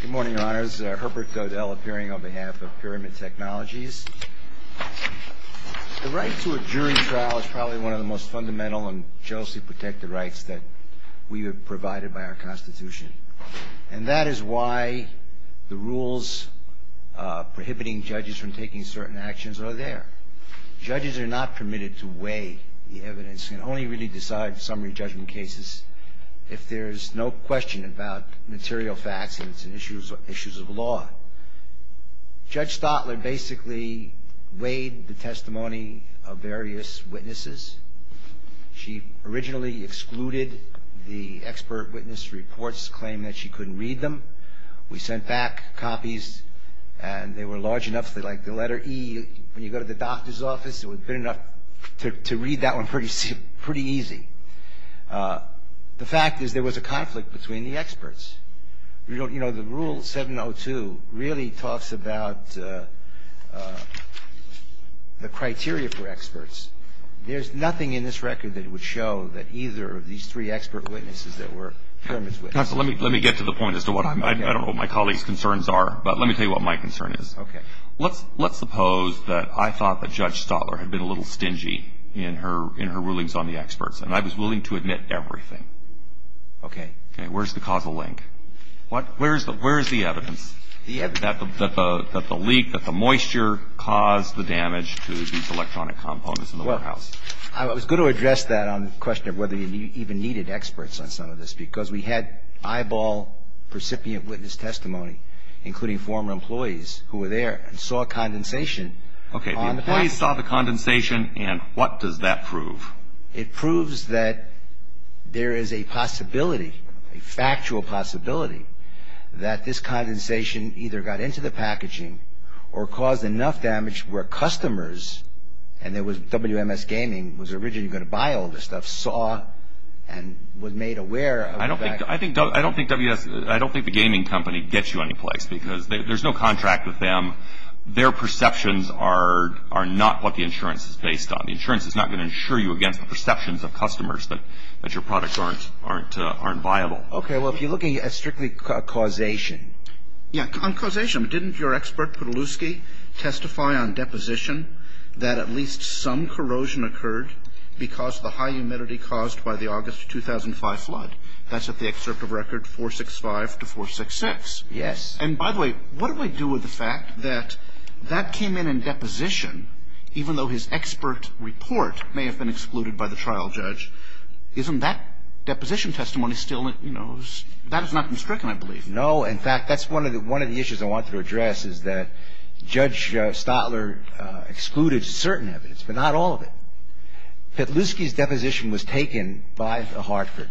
Good morning, Your Honors. Herbert Godel appearing on behalf of Pyramid Technologies. The right to a jury trial is probably one of the most fundamental and justly protected rights that we have provided by our Constitution. And that is why the rules prohibiting judges from taking certain actions are there. Judges are not permitted to weigh the evidence. Judges can only really decide summary judgment cases if there's no question about material facts and issues of law. Judge Stotler basically weighed the testimony of various witnesses. She originally excluded the expert witness reports, claiming that she couldn't read them. We sent back copies, and they were large enough that, like the letter E, when you go to the doctor's office, it would have been enough to read that one pretty easy. The fact is there was a conflict between the experts. You know, the Rule 702 really talks about the criteria for experts. There's nothing in this record that would show that either of these three expert witnesses that were pyramids witnesses. Let me get to the point as to what my colleagues' concerns are, but let me tell you what my concern is. Okay. Let's suppose that I thought that Judge Stotler had been a little stingy in her rulings on the experts, and I was willing to admit everything. Okay. Okay. Where's the causal link? Where is the evidence that the leak, that the moisture caused the damage to these electronic components in the warehouse? Well, I was going to address that on the question of whether you even needed experts on some of this, because we had eyeball recipient witness testimony, including former employees who were there, and saw condensation on the packaging. Okay. The employees saw the condensation, and what does that prove? It proves that there is a possibility, a factual possibility, that this condensation either got into the packaging or caused enough damage where customers, and WMS Gaming was originally going to buy all this stuff, saw and was made aware of that. I don't think WMS, I don't think the gaming company gets you anyplace, because there's no contract with them. Their perceptions are not what the insurance is based on. The insurance is not going to insure you against the perceptions of customers that your products aren't viable. Okay. Well, if you're looking at strictly causation. Yeah, on causation. Didn't your expert, Podoluski, testify on deposition that at least some corrosion occurred because of the high humidity caused by the August 2005 flood? That's at the excerpt of record 465 to 466. Yes. And by the way, what do I do with the fact that that came in in deposition, even though his expert report may have been excluded by the trial judge? Isn't that deposition testimony still, you know, that has not been stricken, I believe. No. In fact, that's one of the issues I wanted to address is that Judge Stotler excluded certain evidence, but not all of it. Podoluski's deposition was taken by Hartford.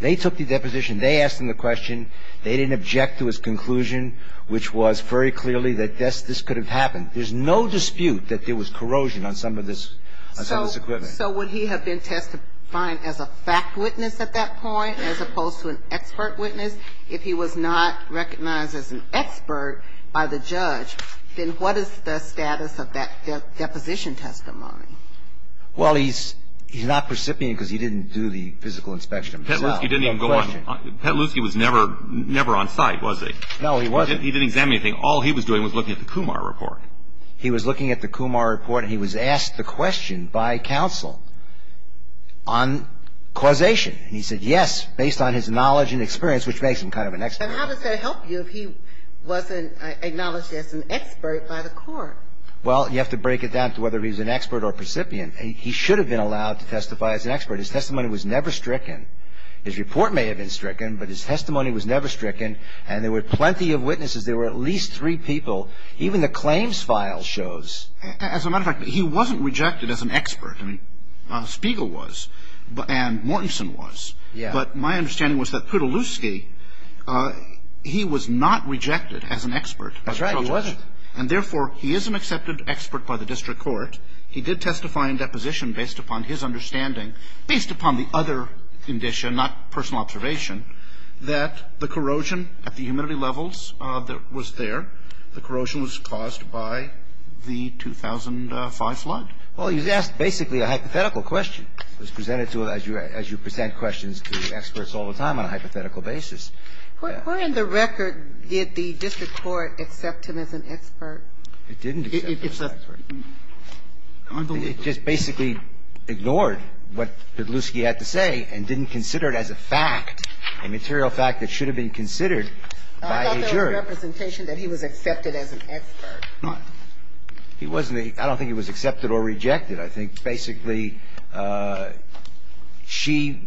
They took the deposition. They asked him the question. They didn't object to his conclusion, which was very clearly that this could have happened. There's no dispute that there was corrosion on some of this equipment. So would he have been testified as a fact witness at that point as opposed to an expert witness? If he was not recognized as an expert by the judge, then what is the status of that deposition testimony? Well, he's not precipitating because he didn't do the physical inspection himself. Petluski didn't even go on. Petluski was never on site, was he? No, he wasn't. He didn't examine anything. All he was doing was looking at the Kumar report. He was looking at the Kumar report, and he was asked the question by counsel on causation. And he said yes, based on his knowledge and experience, which makes him kind of an expert. And how does that help you if he wasn't acknowledged as an expert by the court? Well, you have to break it down to whether he's an expert or a precipient. He should have been allowed to testify as an expert. His testimony was never stricken. His report may have been stricken, but his testimony was never stricken. And there were plenty of witnesses. There were at least three people. Even the claims file shows. As a matter of fact, he wasn't rejected as an expert. I mean, Spiegel was and Mortenson was. But my understanding was that Petluski, he was not rejected as an expert. That's right. He wasn't. And, therefore, he is an accepted expert by the district court. He did testify in deposition based upon his understanding, based upon the other condition, not personal observation, that the corrosion at the humidity levels that was there, the corrosion was caused by the 2005 flood. Well, he was asked basically a hypothetical question. It was presented to him, as you present questions to experts all the time, on a hypothetical basis. Where in the record did the district court accept him as an expert? It didn't accept him as an expert. It just basically ignored what Petluski had to say and didn't consider it as a fact. A material fact that should have been considered by a jury. I thought there was representation that he was accepted as an expert. He wasn't. I don't think he was accepted or rejected. I think basically she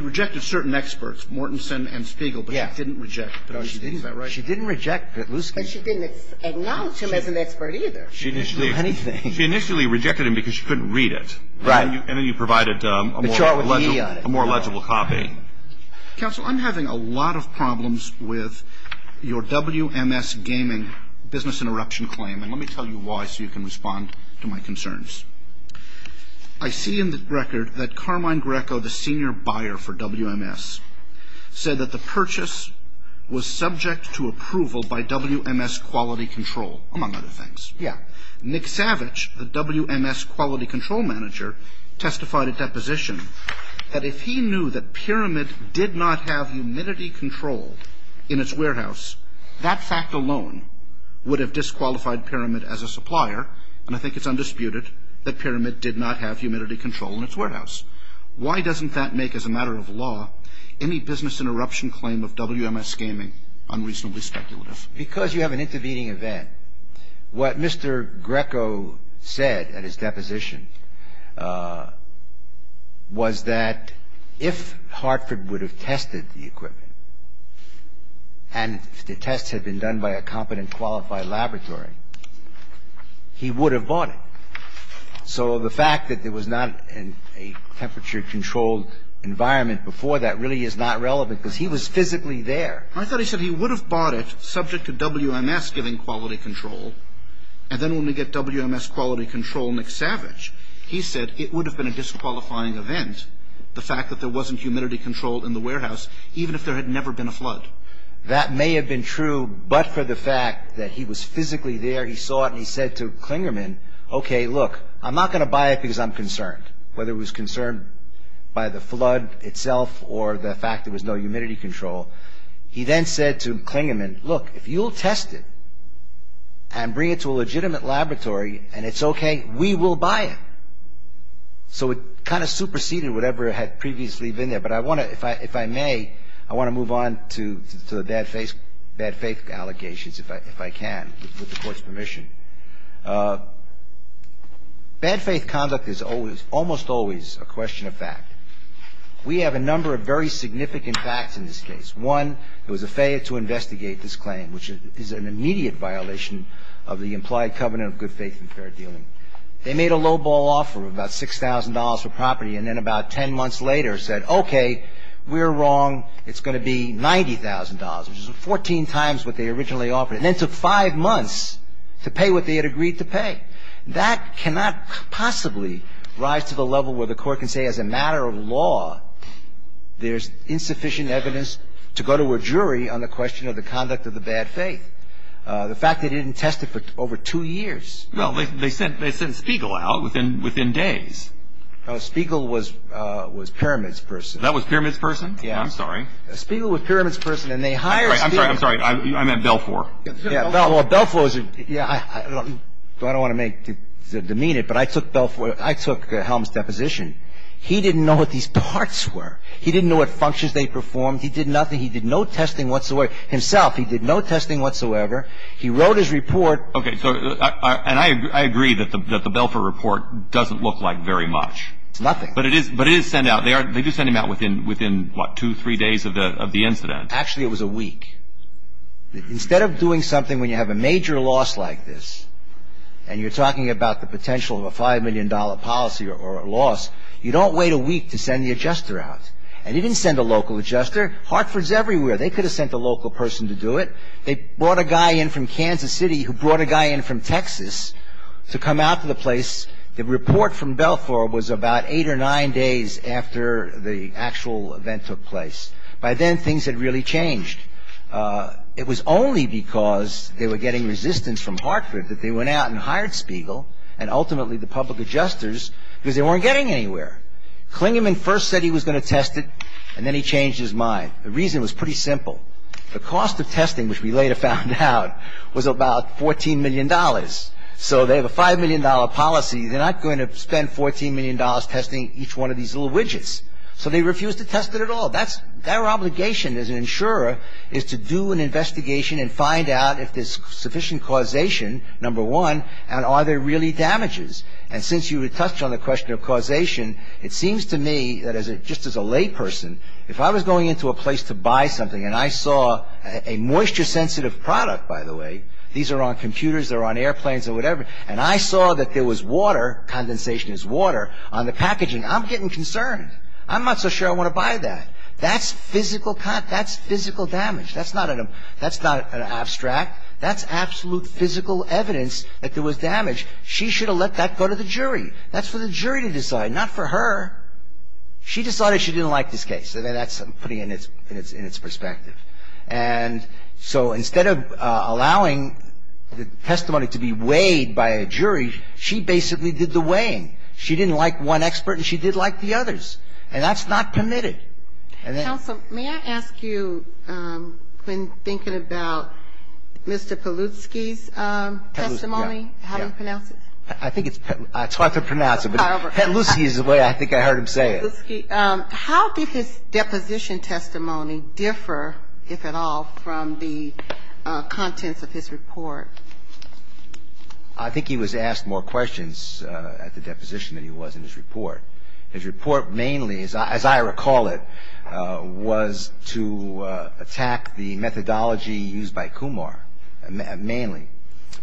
rejected certain experts, Mortenson and Spiegel, but she didn't reject Petluski. Is that right? She didn't reject Petluski. But she didn't acknowledge him as an expert either. She didn't do anything. She initially rejected him because she couldn't read it. Right. And then you provided a more legible copy. Counsel, I'm having a lot of problems with your WMS gaming business interruption claim. And let me tell you why so you can respond to my concerns. I see in the record that Carmine Greco, the senior buyer for WMS, said that the purchase was subject to approval by WMS Quality Control, among other things. Yeah. Nick Savage, the WMS Quality Control manager, testified at that position that if he knew that Pyramid did not have humidity control in its warehouse, that fact alone would have disqualified Pyramid as a supplier. And I think it's undisputed that Pyramid did not have humidity control in its warehouse. Why doesn't that make, as a matter of law, any business interruption claim of WMS gaming unreasonably speculative? Because you have an intervening event. What Mr. Greco said at his deposition was that if Hartford would have tested the equipment, and the tests had been done by a competent, qualified laboratory, he would have bought it. So the fact that it was not in a temperature-controlled environment before that really is not relevant because he was physically there. I thought he said he would have bought it subject to WMS giving quality control. And then when we get WMS Quality Control, Nick Savage, he said it would have been a disqualifying event, the fact that there wasn't humidity control in the warehouse, even if there had never been a flood. That may have been true, but for the fact that he was physically there, he saw it and he said to Klingerman, okay, look, I'm not going to buy it because I'm concerned. whether it was concerned by the flood itself or the fact there was no humidity control. He then said to Klingerman, look, if you'll test it and bring it to a legitimate laboratory and it's okay, we will buy it. So it kind of superseded whatever had previously been there. But I want to, if I may, I want to move on to the bad faith allegations, if I can, with the Court's permission. Bad faith conduct is almost always a question of fact. We have a number of very significant facts in this case. One, it was a failure to investigate this claim, which is an immediate violation of the implied covenant of good faith and fair dealing. They made a lowball offer of about $6,000 for property, and then about 10 months later said, okay, we're wrong. It's going to be $90,000, which is 14 times what they originally offered. And then it took five months to pay what they had agreed to pay. That cannot possibly rise to the level where the Court can say as a matter of law there's insufficient evidence to go to a jury on the question of the conduct of the bad faith. The fact they didn't test it for over two years. Well, they sent Spiegel out within days. Spiegel was Pyramid's person. That was Pyramid's person? Yeah. I'm sorry. Spiegel was Pyramid's person, and they hired Spiegel. I'm sorry. I'm sorry. I meant Belfour. Yeah, Belfour. Belfour is a – yeah, I don't want to make – demean it, but I took Belfour – I took Helm's deposition. He didn't know what these parts were. He didn't know what functions they performed. He did nothing. He did no testing whatsoever. Himself, he did no testing whatsoever. He wrote his report. Okay. So – and I agree that the Belfour report doesn't look like very much. It's nothing. But it is sent out. They do send him out within, what, two, three days of the incident. Actually, it was a week. Instead of doing something when you have a major loss like this, and you're talking about the potential of a $5 million policy or a loss, you don't wait a week to send the adjuster out. And he didn't send a local adjuster. Hartford's everywhere. They could have sent a local person to do it. They brought a guy in from Kansas City who brought a guy in from Texas to come out to the place. The report from Belfour was about eight or nine days after the actual event took place. By then, things had really changed. It was only because they were getting resistance from Hartford that they went out and hired Spiegel and ultimately the public adjusters because they weren't getting anywhere. Klingerman first said he was going to test it, and then he changed his mind. The reason was pretty simple. The cost of testing, which we later found out, was about $14 million. So they have a $5 million policy. They're not going to spend $14 million testing each one of these little widgets. So they refused to test it at all. Their obligation as an insurer is to do an investigation and find out if there's sufficient causation, number one, and are there really damages. And since you touched on the question of causation, it seems to me that just as a lay person, if I was going into a place to buy something and I saw a moisture-sensitive product, by the way, these are on computers, they're on airplanes or whatever, and I saw that there was water, condensation is water, on the packaging, I'm getting concerned. I'm not so sure I want to buy that. That's physical damage. That's not an abstract. That's absolute physical evidence that there was damage. She should have let that go to the jury. That's for the jury to decide, not for her. She decided she didn't like this case, and that's putting it in its perspective. And so instead of allowing the testimony to be weighed by a jury, she basically did the weighing. She didn't like one expert, and she did like the others. And that's not permitted. And then ---- Counsel, may I ask you, when thinking about Mr. Pelutsky's testimony, how to pronounce it? I think it's hard to pronounce it, but Pelutsky is the way I think I heard him say it. Pelutsky. How did his deposition testimony differ, if at all, from the contents of his report? I think he was asked more questions at the deposition than he was in his report. His report mainly, as I recall it, was to attack the methodology used by Kumar, mainly.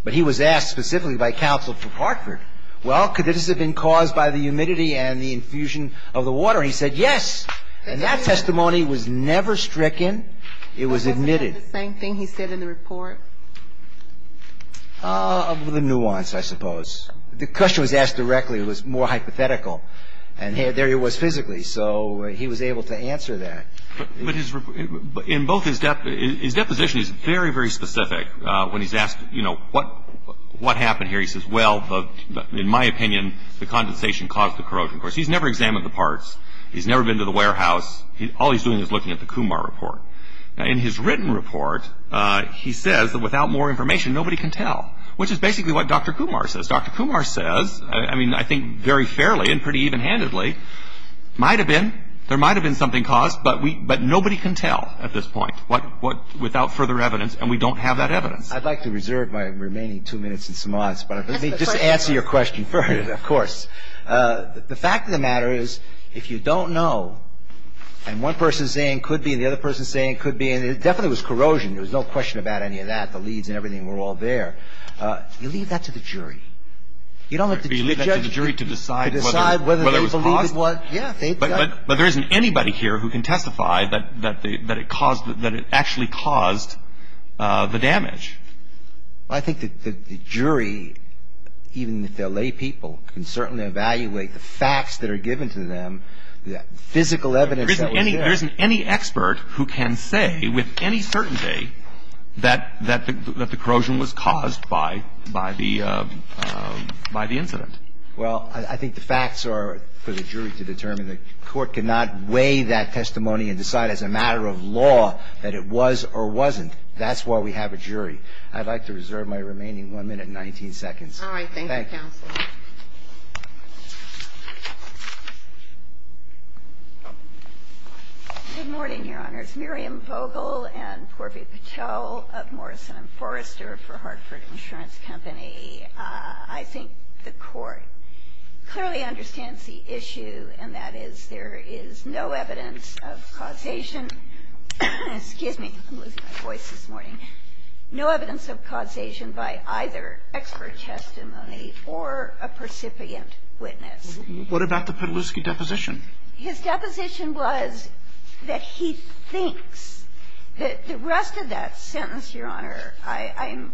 But he was asked specifically by counsel for Hartford, well, could this have been caused by the humidity and the infusion of the water? And he said, yes. And that testimony was never stricken. It was admitted. Was it the same thing he said in the report? The nuance, I suppose. The question was asked directly. It was more hypothetical. And there he was physically, so he was able to answer that. But in both his deposition, he's very, very specific when he's asked, you know, what happened here? He says, well, in my opinion, the condensation caused the corrosion. Of course, he's never examined the parts. He's never been to the warehouse. All he's doing is looking at the Kumar report. In his written report, he says that without more information, nobody can tell, which is basically what Dr. Kumar says. Dr. Kumar says, I mean, I think very fairly and pretty evenhandedly, might have been, there might have been something caused, but nobody can tell at this point without further evidence, and we don't have that evidence. I'd like to reserve my remaining two minutes and some odds, but let me just answer your question first, of course. The fact of the matter is, if you don't know, and one person is saying it could be, and the other person is saying it could be, and it definitely was corrosion. There was no question about any of that. The leads and everything were all there. You leave that to the jury. You don't have to judge. You leave that to the jury to decide whether it was caused? To decide whether they believe it was. Yeah. But there isn't anybody here who can testify that it caused, that it actually caused the damage. Well, I think that the jury, even if they're lay people, can certainly evaluate the facts that are given to them, the physical evidence that was there. There isn't any expert who can say with any certainty that the corrosion was caused by the incident. Well, I think the facts are for the jury to determine. The court cannot weigh that testimony and decide as a matter of law that it was or wasn't. That's why we have a jury. I'd like to reserve my remaining 1 minute and 19 seconds. Thank you. All right. Thank you, Counsel. Good morning, Your Honors. Miriam Vogel and Porfi Patel of Morrison & Forrester for Hartford Insurance Company. I think the Court clearly understands the issue, and that is there is no evidence of causation. Excuse me. I'm losing my voice this morning. No evidence of causation by either expert testimony or a percipient witness. What about the Petluski deposition? His deposition was that he thinks that the rest of that sentence, Your Honor, I'm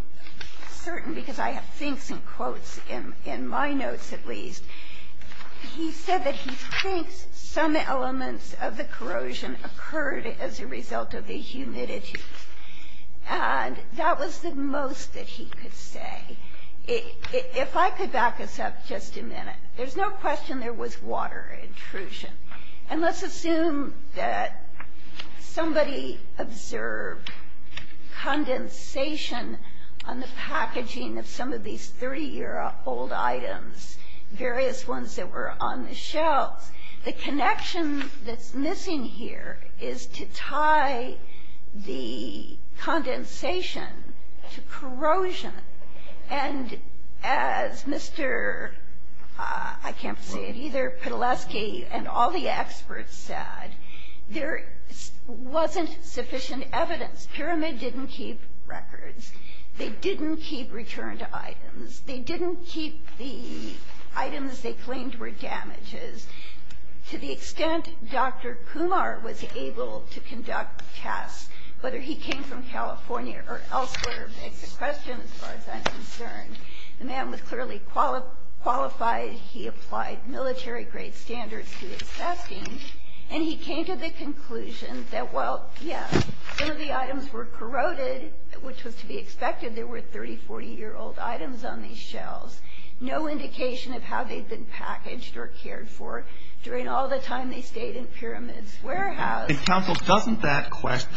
certain because I have thinks and quotes in my notes, at least. He said that he thinks some elements of the corrosion occurred as a result of the humidity. And that was the most that he could say. If I could back us up just a minute. There's no question there was water intrusion. And let's assume that somebody observed condensation on the packaging of some of these 30-year-old items, various ones that were on the shelves. The connection that's missing here is to tie the condensation to corrosion. And as Mr. I can't say it either, Petluski and all the experts said, there wasn't sufficient evidence. Pyramid didn't keep records. They didn't keep returned items. They didn't keep the items they claimed were damages. To the extent Dr. Kumar was able to conduct tests, whether he came from California or elsewhere, it's a question as far as I'm concerned. The man was clearly qualified. He applied military-grade standards to his testing. And he came to the conclusion that, well, yes, some of the items were corroded, which was to be expected. There were 30-, 40-year-old items on these shelves. No indication of how they'd been packaged or cared for during all the time they stayed in Pyramid's warehouse. Counsel, doesn't that question,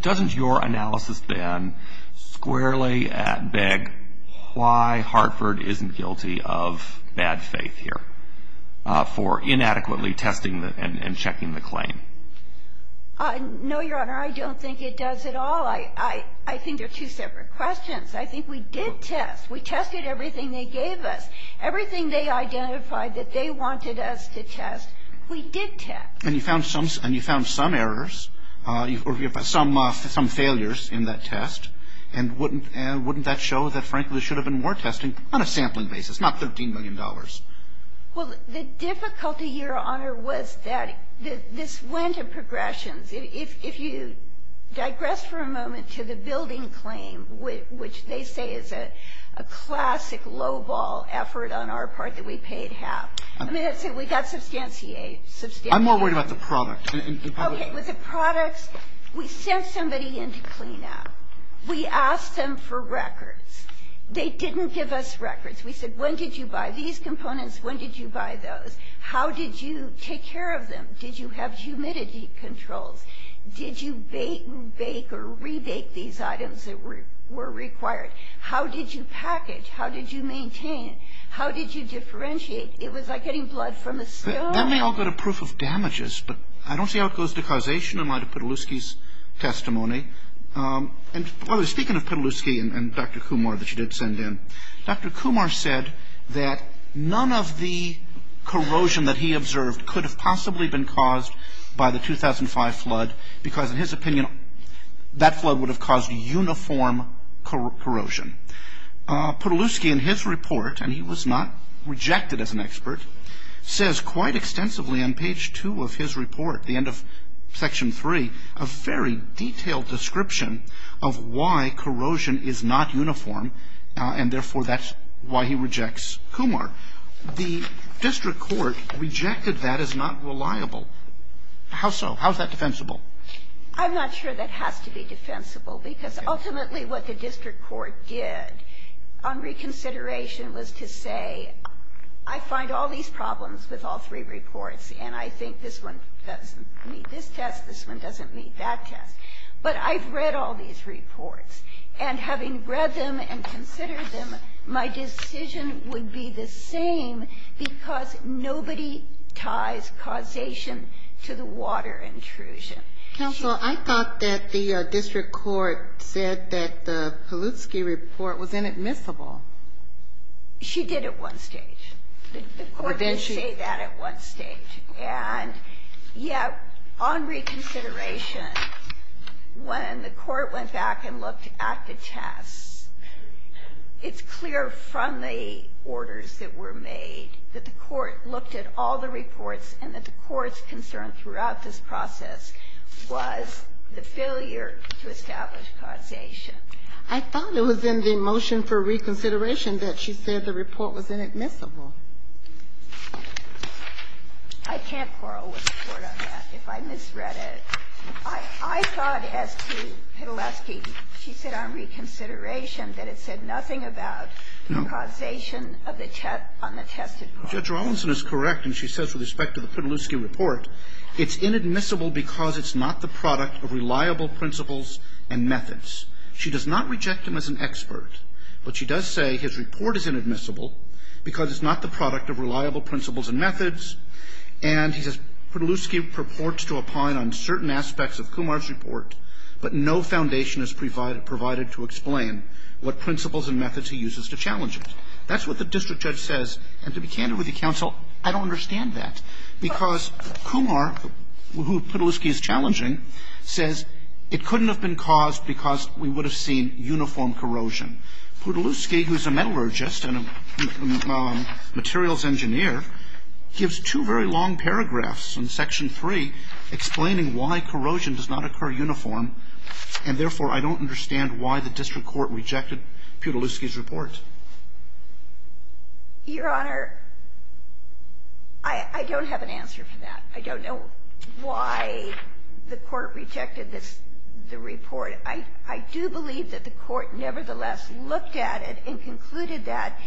doesn't your analysis, Ben, squarely beg why Hartford isn't guilty of bad faith here for inadequately testing and checking the claim? No, Your Honor. I don't think it does at all. I think they're two separate questions. I think we did test. We tested everything they gave us. Everything they identified that they wanted us to test, we did test. And you found some errors or some failures in that test. And wouldn't that show that, frankly, there should have been more testing on a sampling basis, not $13 million? Well, the difficulty, Your Honor, was that this went in progressions. If you digress for a moment to the building claim, which they say is a classic lowball effort on our part that we paid half. I mean, we got substantiated. I'm more worried about the product. Okay. With the products, we sent somebody in to clean up. We asked them for records. They didn't give us records. We said, when did you buy these components? When did you buy those? How did you take care of them? Did you have humidity controls? Did you bake or re-bake these items that were required? How did you package? How did you maintain? How did you differentiate? It was like getting blood from a stone. That may all go to proof of damages, but I don't see how it goes to causation in light of Petluski's testimony. And, by the way, speaking of Petluski and Dr. Kumar that you did send in, Dr. Kumar said that none of the corrosion that he observed could have possibly been caused by the 2005 flood because, in his opinion, that flood would have caused uniform corrosion. Petluski, in his report, and he was not rejected as an expert, says quite extensively on page two of his report, the end of section three, a very detailed description of why corrosion is not uniform, and, therefore, that's why he rejects Kumar. The district court rejected that as not reliable. How so? How is that defensible? I'm not sure that has to be defensible because, ultimately, what the district court did on reconsideration was to say, I find all these problems with all three reports, and I think this one doesn't meet this test, this one doesn't meet that test, but I've read all these reports. And having read them and considered them, my decision would be the same because nobody ties causation to the water intrusion. Counsel, I thought that the district court said that the Petluski report was inadmissible. She did at one stage. The court did say that at one stage. And yet, on reconsideration, when the court went back and looked at the tests, it's clear from the orders that were made that the court looked at all the reports and that the court's concern throughout this process was the failure to establish causation. I thought it was in the motion for reconsideration that she said the report was inadmissible. I can't quarrel with the Court on that if I misread it. I thought as to Petluski, she said on reconsideration that it said nothing about the causation of the test on the tested water. Judge Rawlinson is correct, and she says with respect to the Petluski report, it's inadmissible because it's not the product of reliable principles and methods. She does not reject him as an expert, but she does say his report is inadmissible because it's not the product of reliable principles and methods. And he says Petluski purports to opine on certain aspects of Kumar's report, but no foundation is provided to explain what principles and methods he uses to challenge it. That's what the district judge says. And to be candid with you, counsel, I don't understand that, because Kumar, who Petluski is challenging, says it couldn't have been caused because we would have seen uniform corrosion. Petluski, who is a metallurgist and a materials engineer, gives two very long paragraphs in Section 3 explaining why corrosion does not occur uniform, and therefore, I don't understand why the district court rejected Petluski's report. Your Honor, I don't have an answer for that. I don't know why the Court rejected this, the report. I do believe that the Court nevertheless looked at it and concluded that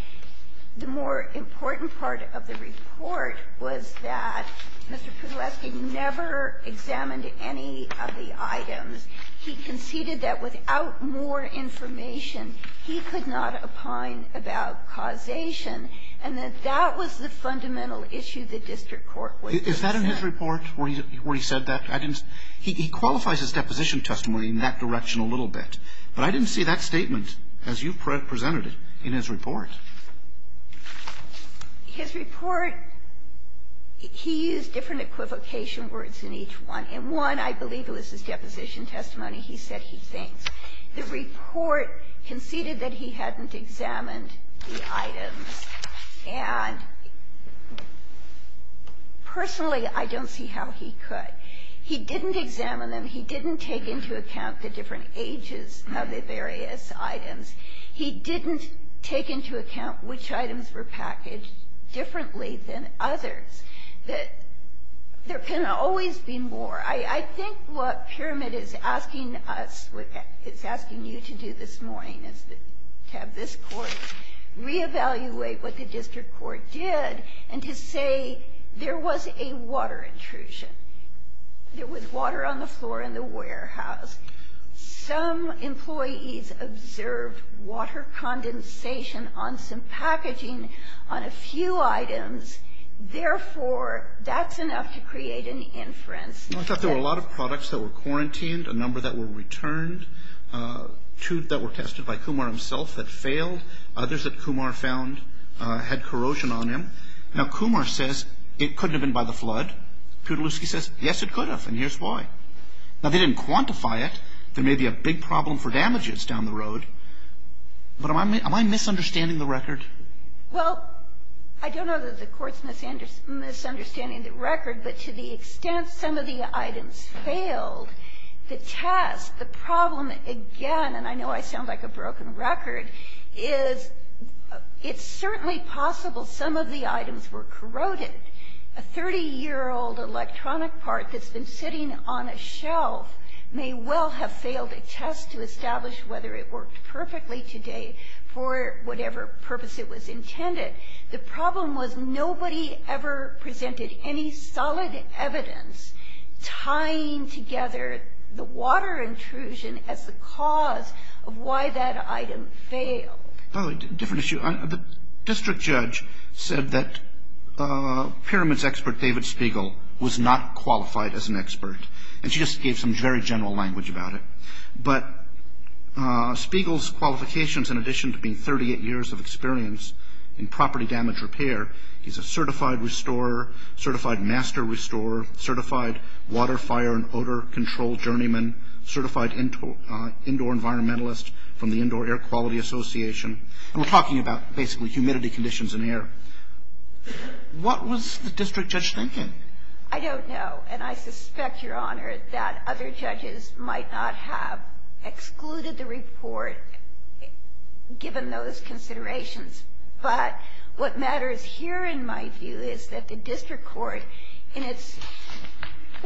the more important part of the report was that Mr. Petluski never examined any of the items. He conceded that without more information, he could not opine about causation, and that that was the fundamental issue the district court was concerned. Is that in his report where he said that? He qualifies his deposition testimony in that direction a little bit. But I didn't see that statement, as you presented it, in his report. His report, he used different equivocation words in each one. In one, I believe it was his deposition testimony, he said he thinks. The report conceded that he hadn't examined the items. And personally, I don't see how he could. He didn't examine them. He didn't take into account the different ages of the various items. He didn't take into account which items were packaged differently than others, that there can always be more. I think what Pyramid is asking us, is asking you to do this morning, is to have this Court reevaluate what the district court did, and to say there was a water intrusion. There was water on the floor in the warehouse. Some employees observed water condensation on some packaging on a few items. Therefore, that's enough to create an inference. I thought there were a lot of products that were quarantined. A number that were returned. Two that were tested by Kumar himself that failed. Others that Kumar found had corrosion on them. Now, Kumar says it couldn't have been by the flood. Piotrowski says, yes, it could have, and here's why. Now, they didn't quantify it. There may be a big problem for damages down the road. But am I misunderstanding the record? Well, I don't know that the Court's misunderstanding the record. But to the extent some of the items failed, the test, the problem, again, and I know I sound like a broken record, is it's certainly possible some of the items were corroded. A 30-year-old electronic part that's been sitting on a shelf may well have failed a test to establish whether it worked perfectly today for whatever purpose it was intended. The problem was nobody ever presented any solid evidence tying together the water intrusion as the cause of why that item failed. Well, a different issue. The district judge said that pyramids expert David Spiegel was not qualified as an expert. And she just gave some very general language about it. But Spiegel's qualifications, in addition to being 38 years of experience in property damage repair, he's a certified restorer, certified master restorer, certified water, fire, and odor control journeyman, certified indoor environmentalist from the Indoor Air Quality Association. And we're talking about basically humidity conditions in air. What was the district judge thinking? I don't know. And I suspect, Your Honor, that other judges might not have excluded the report given those considerations. But what matters here, in my view, is that the district court, in its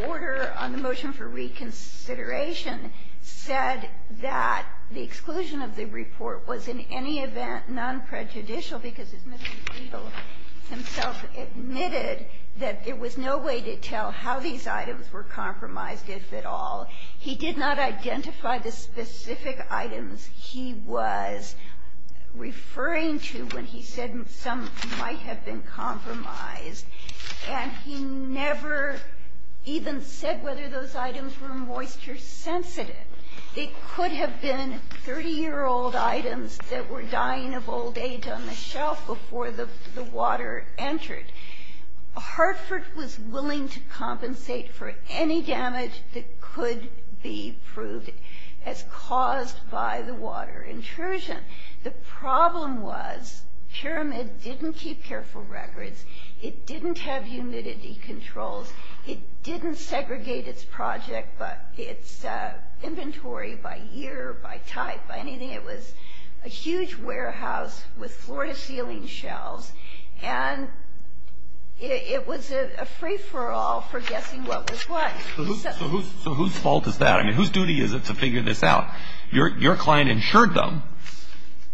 order on the motion for reconsideration, said that the exclusion of the report was in any event nonprejudicial because Mr. Spiegel himself admitted that there was no way to tell how these items were compromised, if at all. He did not identify the specific items he was referring to when he said some might have been compromised. And he never even said whether those items were moisture sensitive. It could have been 30-year-old items that were dying of old age on the shelf before the water entered. Hartford was willing to compensate for any damage that could be proved as caused by the water intrusion. The problem was Pyramid didn't keep careful records. It didn't have humidity controls. It didn't segregate its project, its inventory by year, by type, by anything. It was a huge warehouse with floor-to-ceiling shelves. And it was a free-for-all for guessing what was what. So whose fault is that? I mean, whose duty is it to figure this out? Your client insured them.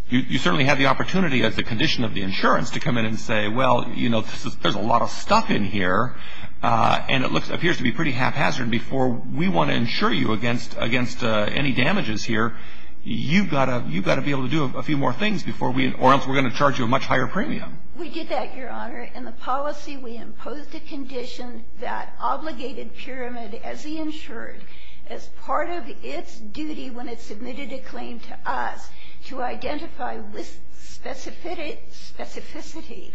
You certainly had the opportunity, as a condition of the insurance, to come in and say, well, you know, there's a lot of stuff in here, and it appears to be pretty haphazard. Before we want to insure you against any damages here, you've got to be able to do a few more things, or else we're going to charge you a much higher premium. We did that, Your Honor. In the policy, we imposed a condition that obligated Pyramid, as he insured, as part of its duty when it submitted a claim to us to identify with specificity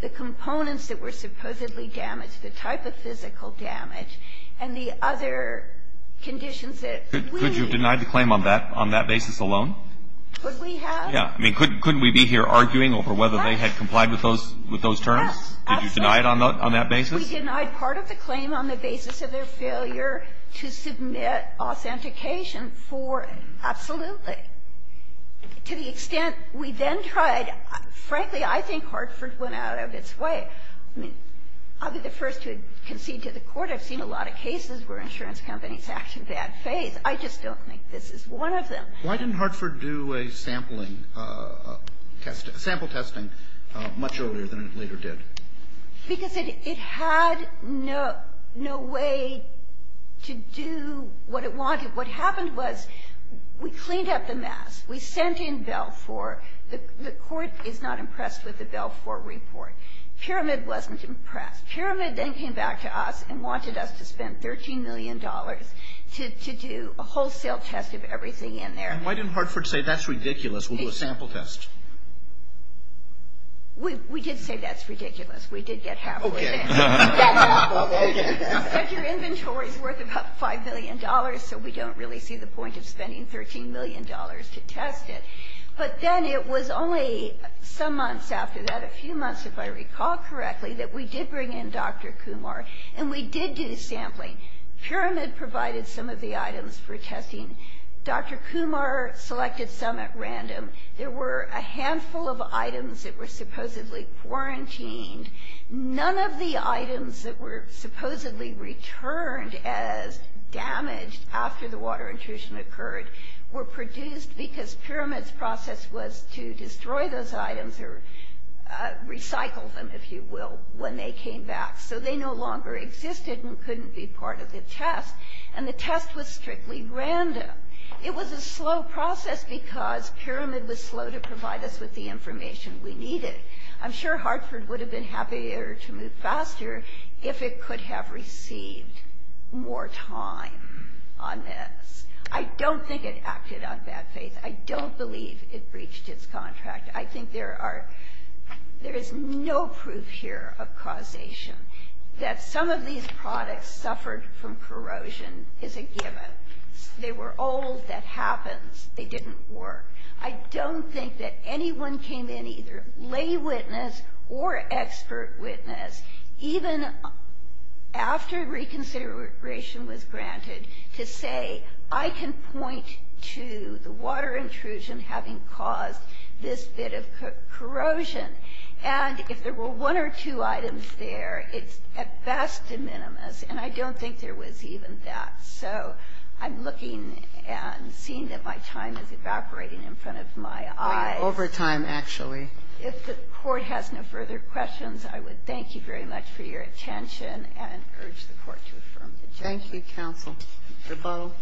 the components that were supposedly damaged, the type of physical damage, and the other conditions that we needed. Could you have denied the claim on that basis alone? Could we have? Yeah. I mean, couldn't we be here arguing over whether they had complied with those terms? Absolutely. Did you deny it on that basis? We denied part of the claim on the basis of their failure to submit authentication for absolutely. To the extent we then tried, frankly, I think Hartford went out of its way. I mean, I'll be the first to concede to the Court. I've seen a lot of cases where insurance companies act in bad faith. I just don't think this is one of them. Why didn't Hartford do a sampling test, a sample testing, much earlier than it later Because it had no way to do what it wanted. What happened was we cleaned up the mess. We sent in Belfour. The Court is not impressed with the Belfour report. Pyramid wasn't impressed. Pyramid then came back to us and wanted us to spend $13 million to do a wholesale test of everything in there. And why didn't Hartford say, that's ridiculous, we'll do a sample test? We did say that's ridiculous. We did get half of it. But your inventory is worth about $5 million, so we don't really see the point of spending $13 million to test it. But then it was only some months after that, a few months if I recall correctly, that we did bring in Dr. Kumar, and we did do sampling. Pyramid provided some of the items for testing. Dr. Kumar selected some at random. There were a handful of items that were supposedly quarantined. None of the items that were supposedly returned as damaged after the water intrusion occurred were produced because Pyramid's process was to destroy those items or recycle them, if you will, when they came back. So they no longer existed and couldn't be part of the test. And the test was strictly random. It was a slow process because Pyramid was slow to provide us with the information we needed. I'm sure Hartford would have been happier to move faster if it could have received more time on this. I don't think it acted on bad faith. I don't believe it breached its contract. I think there is no proof here of causation. That some of these products suffered from corrosion is a given. But they were old. That happens. They didn't work. I don't think that anyone came in, either lay witness or expert witness, even after reconsideration was granted, to say, I can point to the water intrusion having caused this bit of corrosion. And if there were one or two items there, it's at best de minimis. And I don't think there was even that. So I'm looking and seeing that my time is evaporating in front of my eyes. Over time, actually. If the Court has no further questions, I would thank you very much for your attention and urge the Court to affirm the judgment. Thank you, counsel. Mr. Bowe.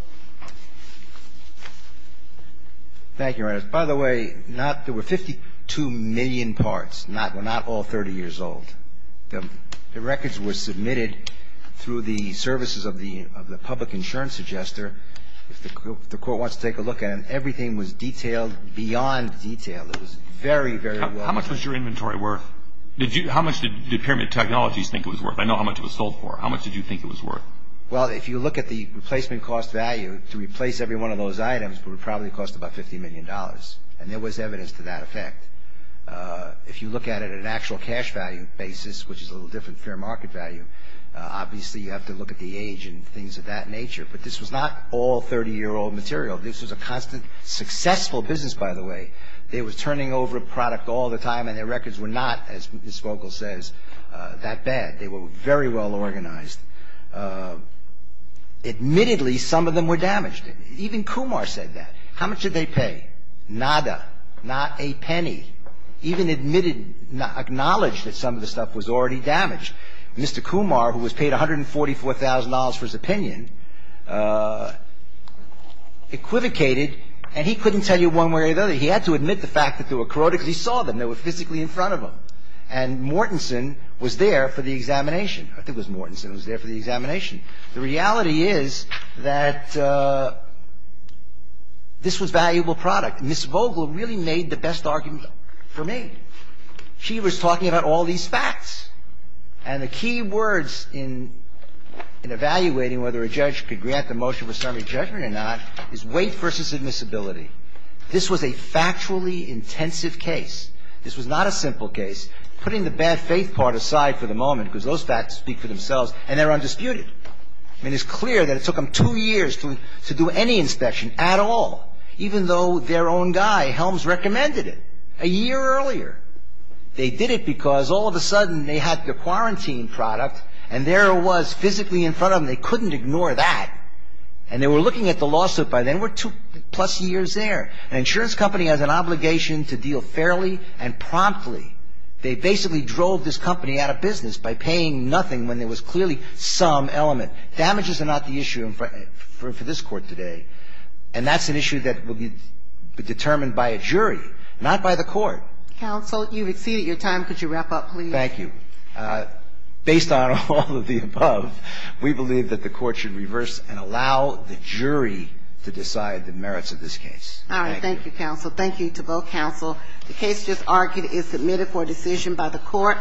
Thank you, Your Honor. By the way, not the 52 million parts were not all 30 years old. The records were submitted through the services of the public insurance adjuster. If the Court wants to take a look at them, everything was detailed beyond detail. It was very, very well done. How much was your inventory worth? How much did Pyramid Technologies think it was worth? I know how much it was sold for. How much did you think it was worth? Well, if you look at the replacement cost value, to replace every one of those items would probably cost about $50 million. And there was evidence to that effect. If you look at it at an actual cash value basis, which is a little different fair market value, obviously you have to look at the age and things of that nature. But this was not all 30-year-old material. This was a constant successful business, by the way. They were turning over product all the time, and their records were not, as Ms. Vogel says, that bad. They were very well organized. Admittedly, some of them were damaged. Even Kumar said that. How much did they pay? Nada. Not a penny. Even admitted, acknowledged that some of the stuff was already damaged. Mr. Kumar, who was paid $144,000 for his opinion, equivocated, and he couldn't tell you one way or the other. He had to admit the fact that they were corroded because he saw them. They were physically in front of him. And Mortensen was there for the examination. I think it was Mortensen who was there for the examination. The reality is that this was valuable product. Ms. Vogel really made the best argument for me. She was talking about all these facts. And the key words in evaluating whether a judge could grant the motion for summary judgment or not is weight versus admissibility. This was a factually intensive case. This was not a simple case. Putting the bad faith part aside for the moment, because those facts speak for themselves, and they're undisputed. I mean, it's clear that it took them two years to do any inspection at all, even though their own guy, Helms, recommended it a year earlier. They did it because all of a sudden they had their quarantine product, and there it was physically in front of them. They couldn't ignore that. And they were looking at the lawsuit by then. We're two-plus years there. An insurance company has an obligation to deal fairly and promptly. They basically drove this company out of business by paying nothing when there was clearly some element. Damages are not the issue for this Court today. And that's an issue that will be determined by a jury, not by the Court. Counsel, you've exceeded your time. Could you wrap up, please? Thank you. Based on all of the above, we believe that the Court should reverse and allow the jury to decide the merits of this case. All right. Thank you, counsel. Thank you to both counsel. The case just argued is submitted for decision by the Court.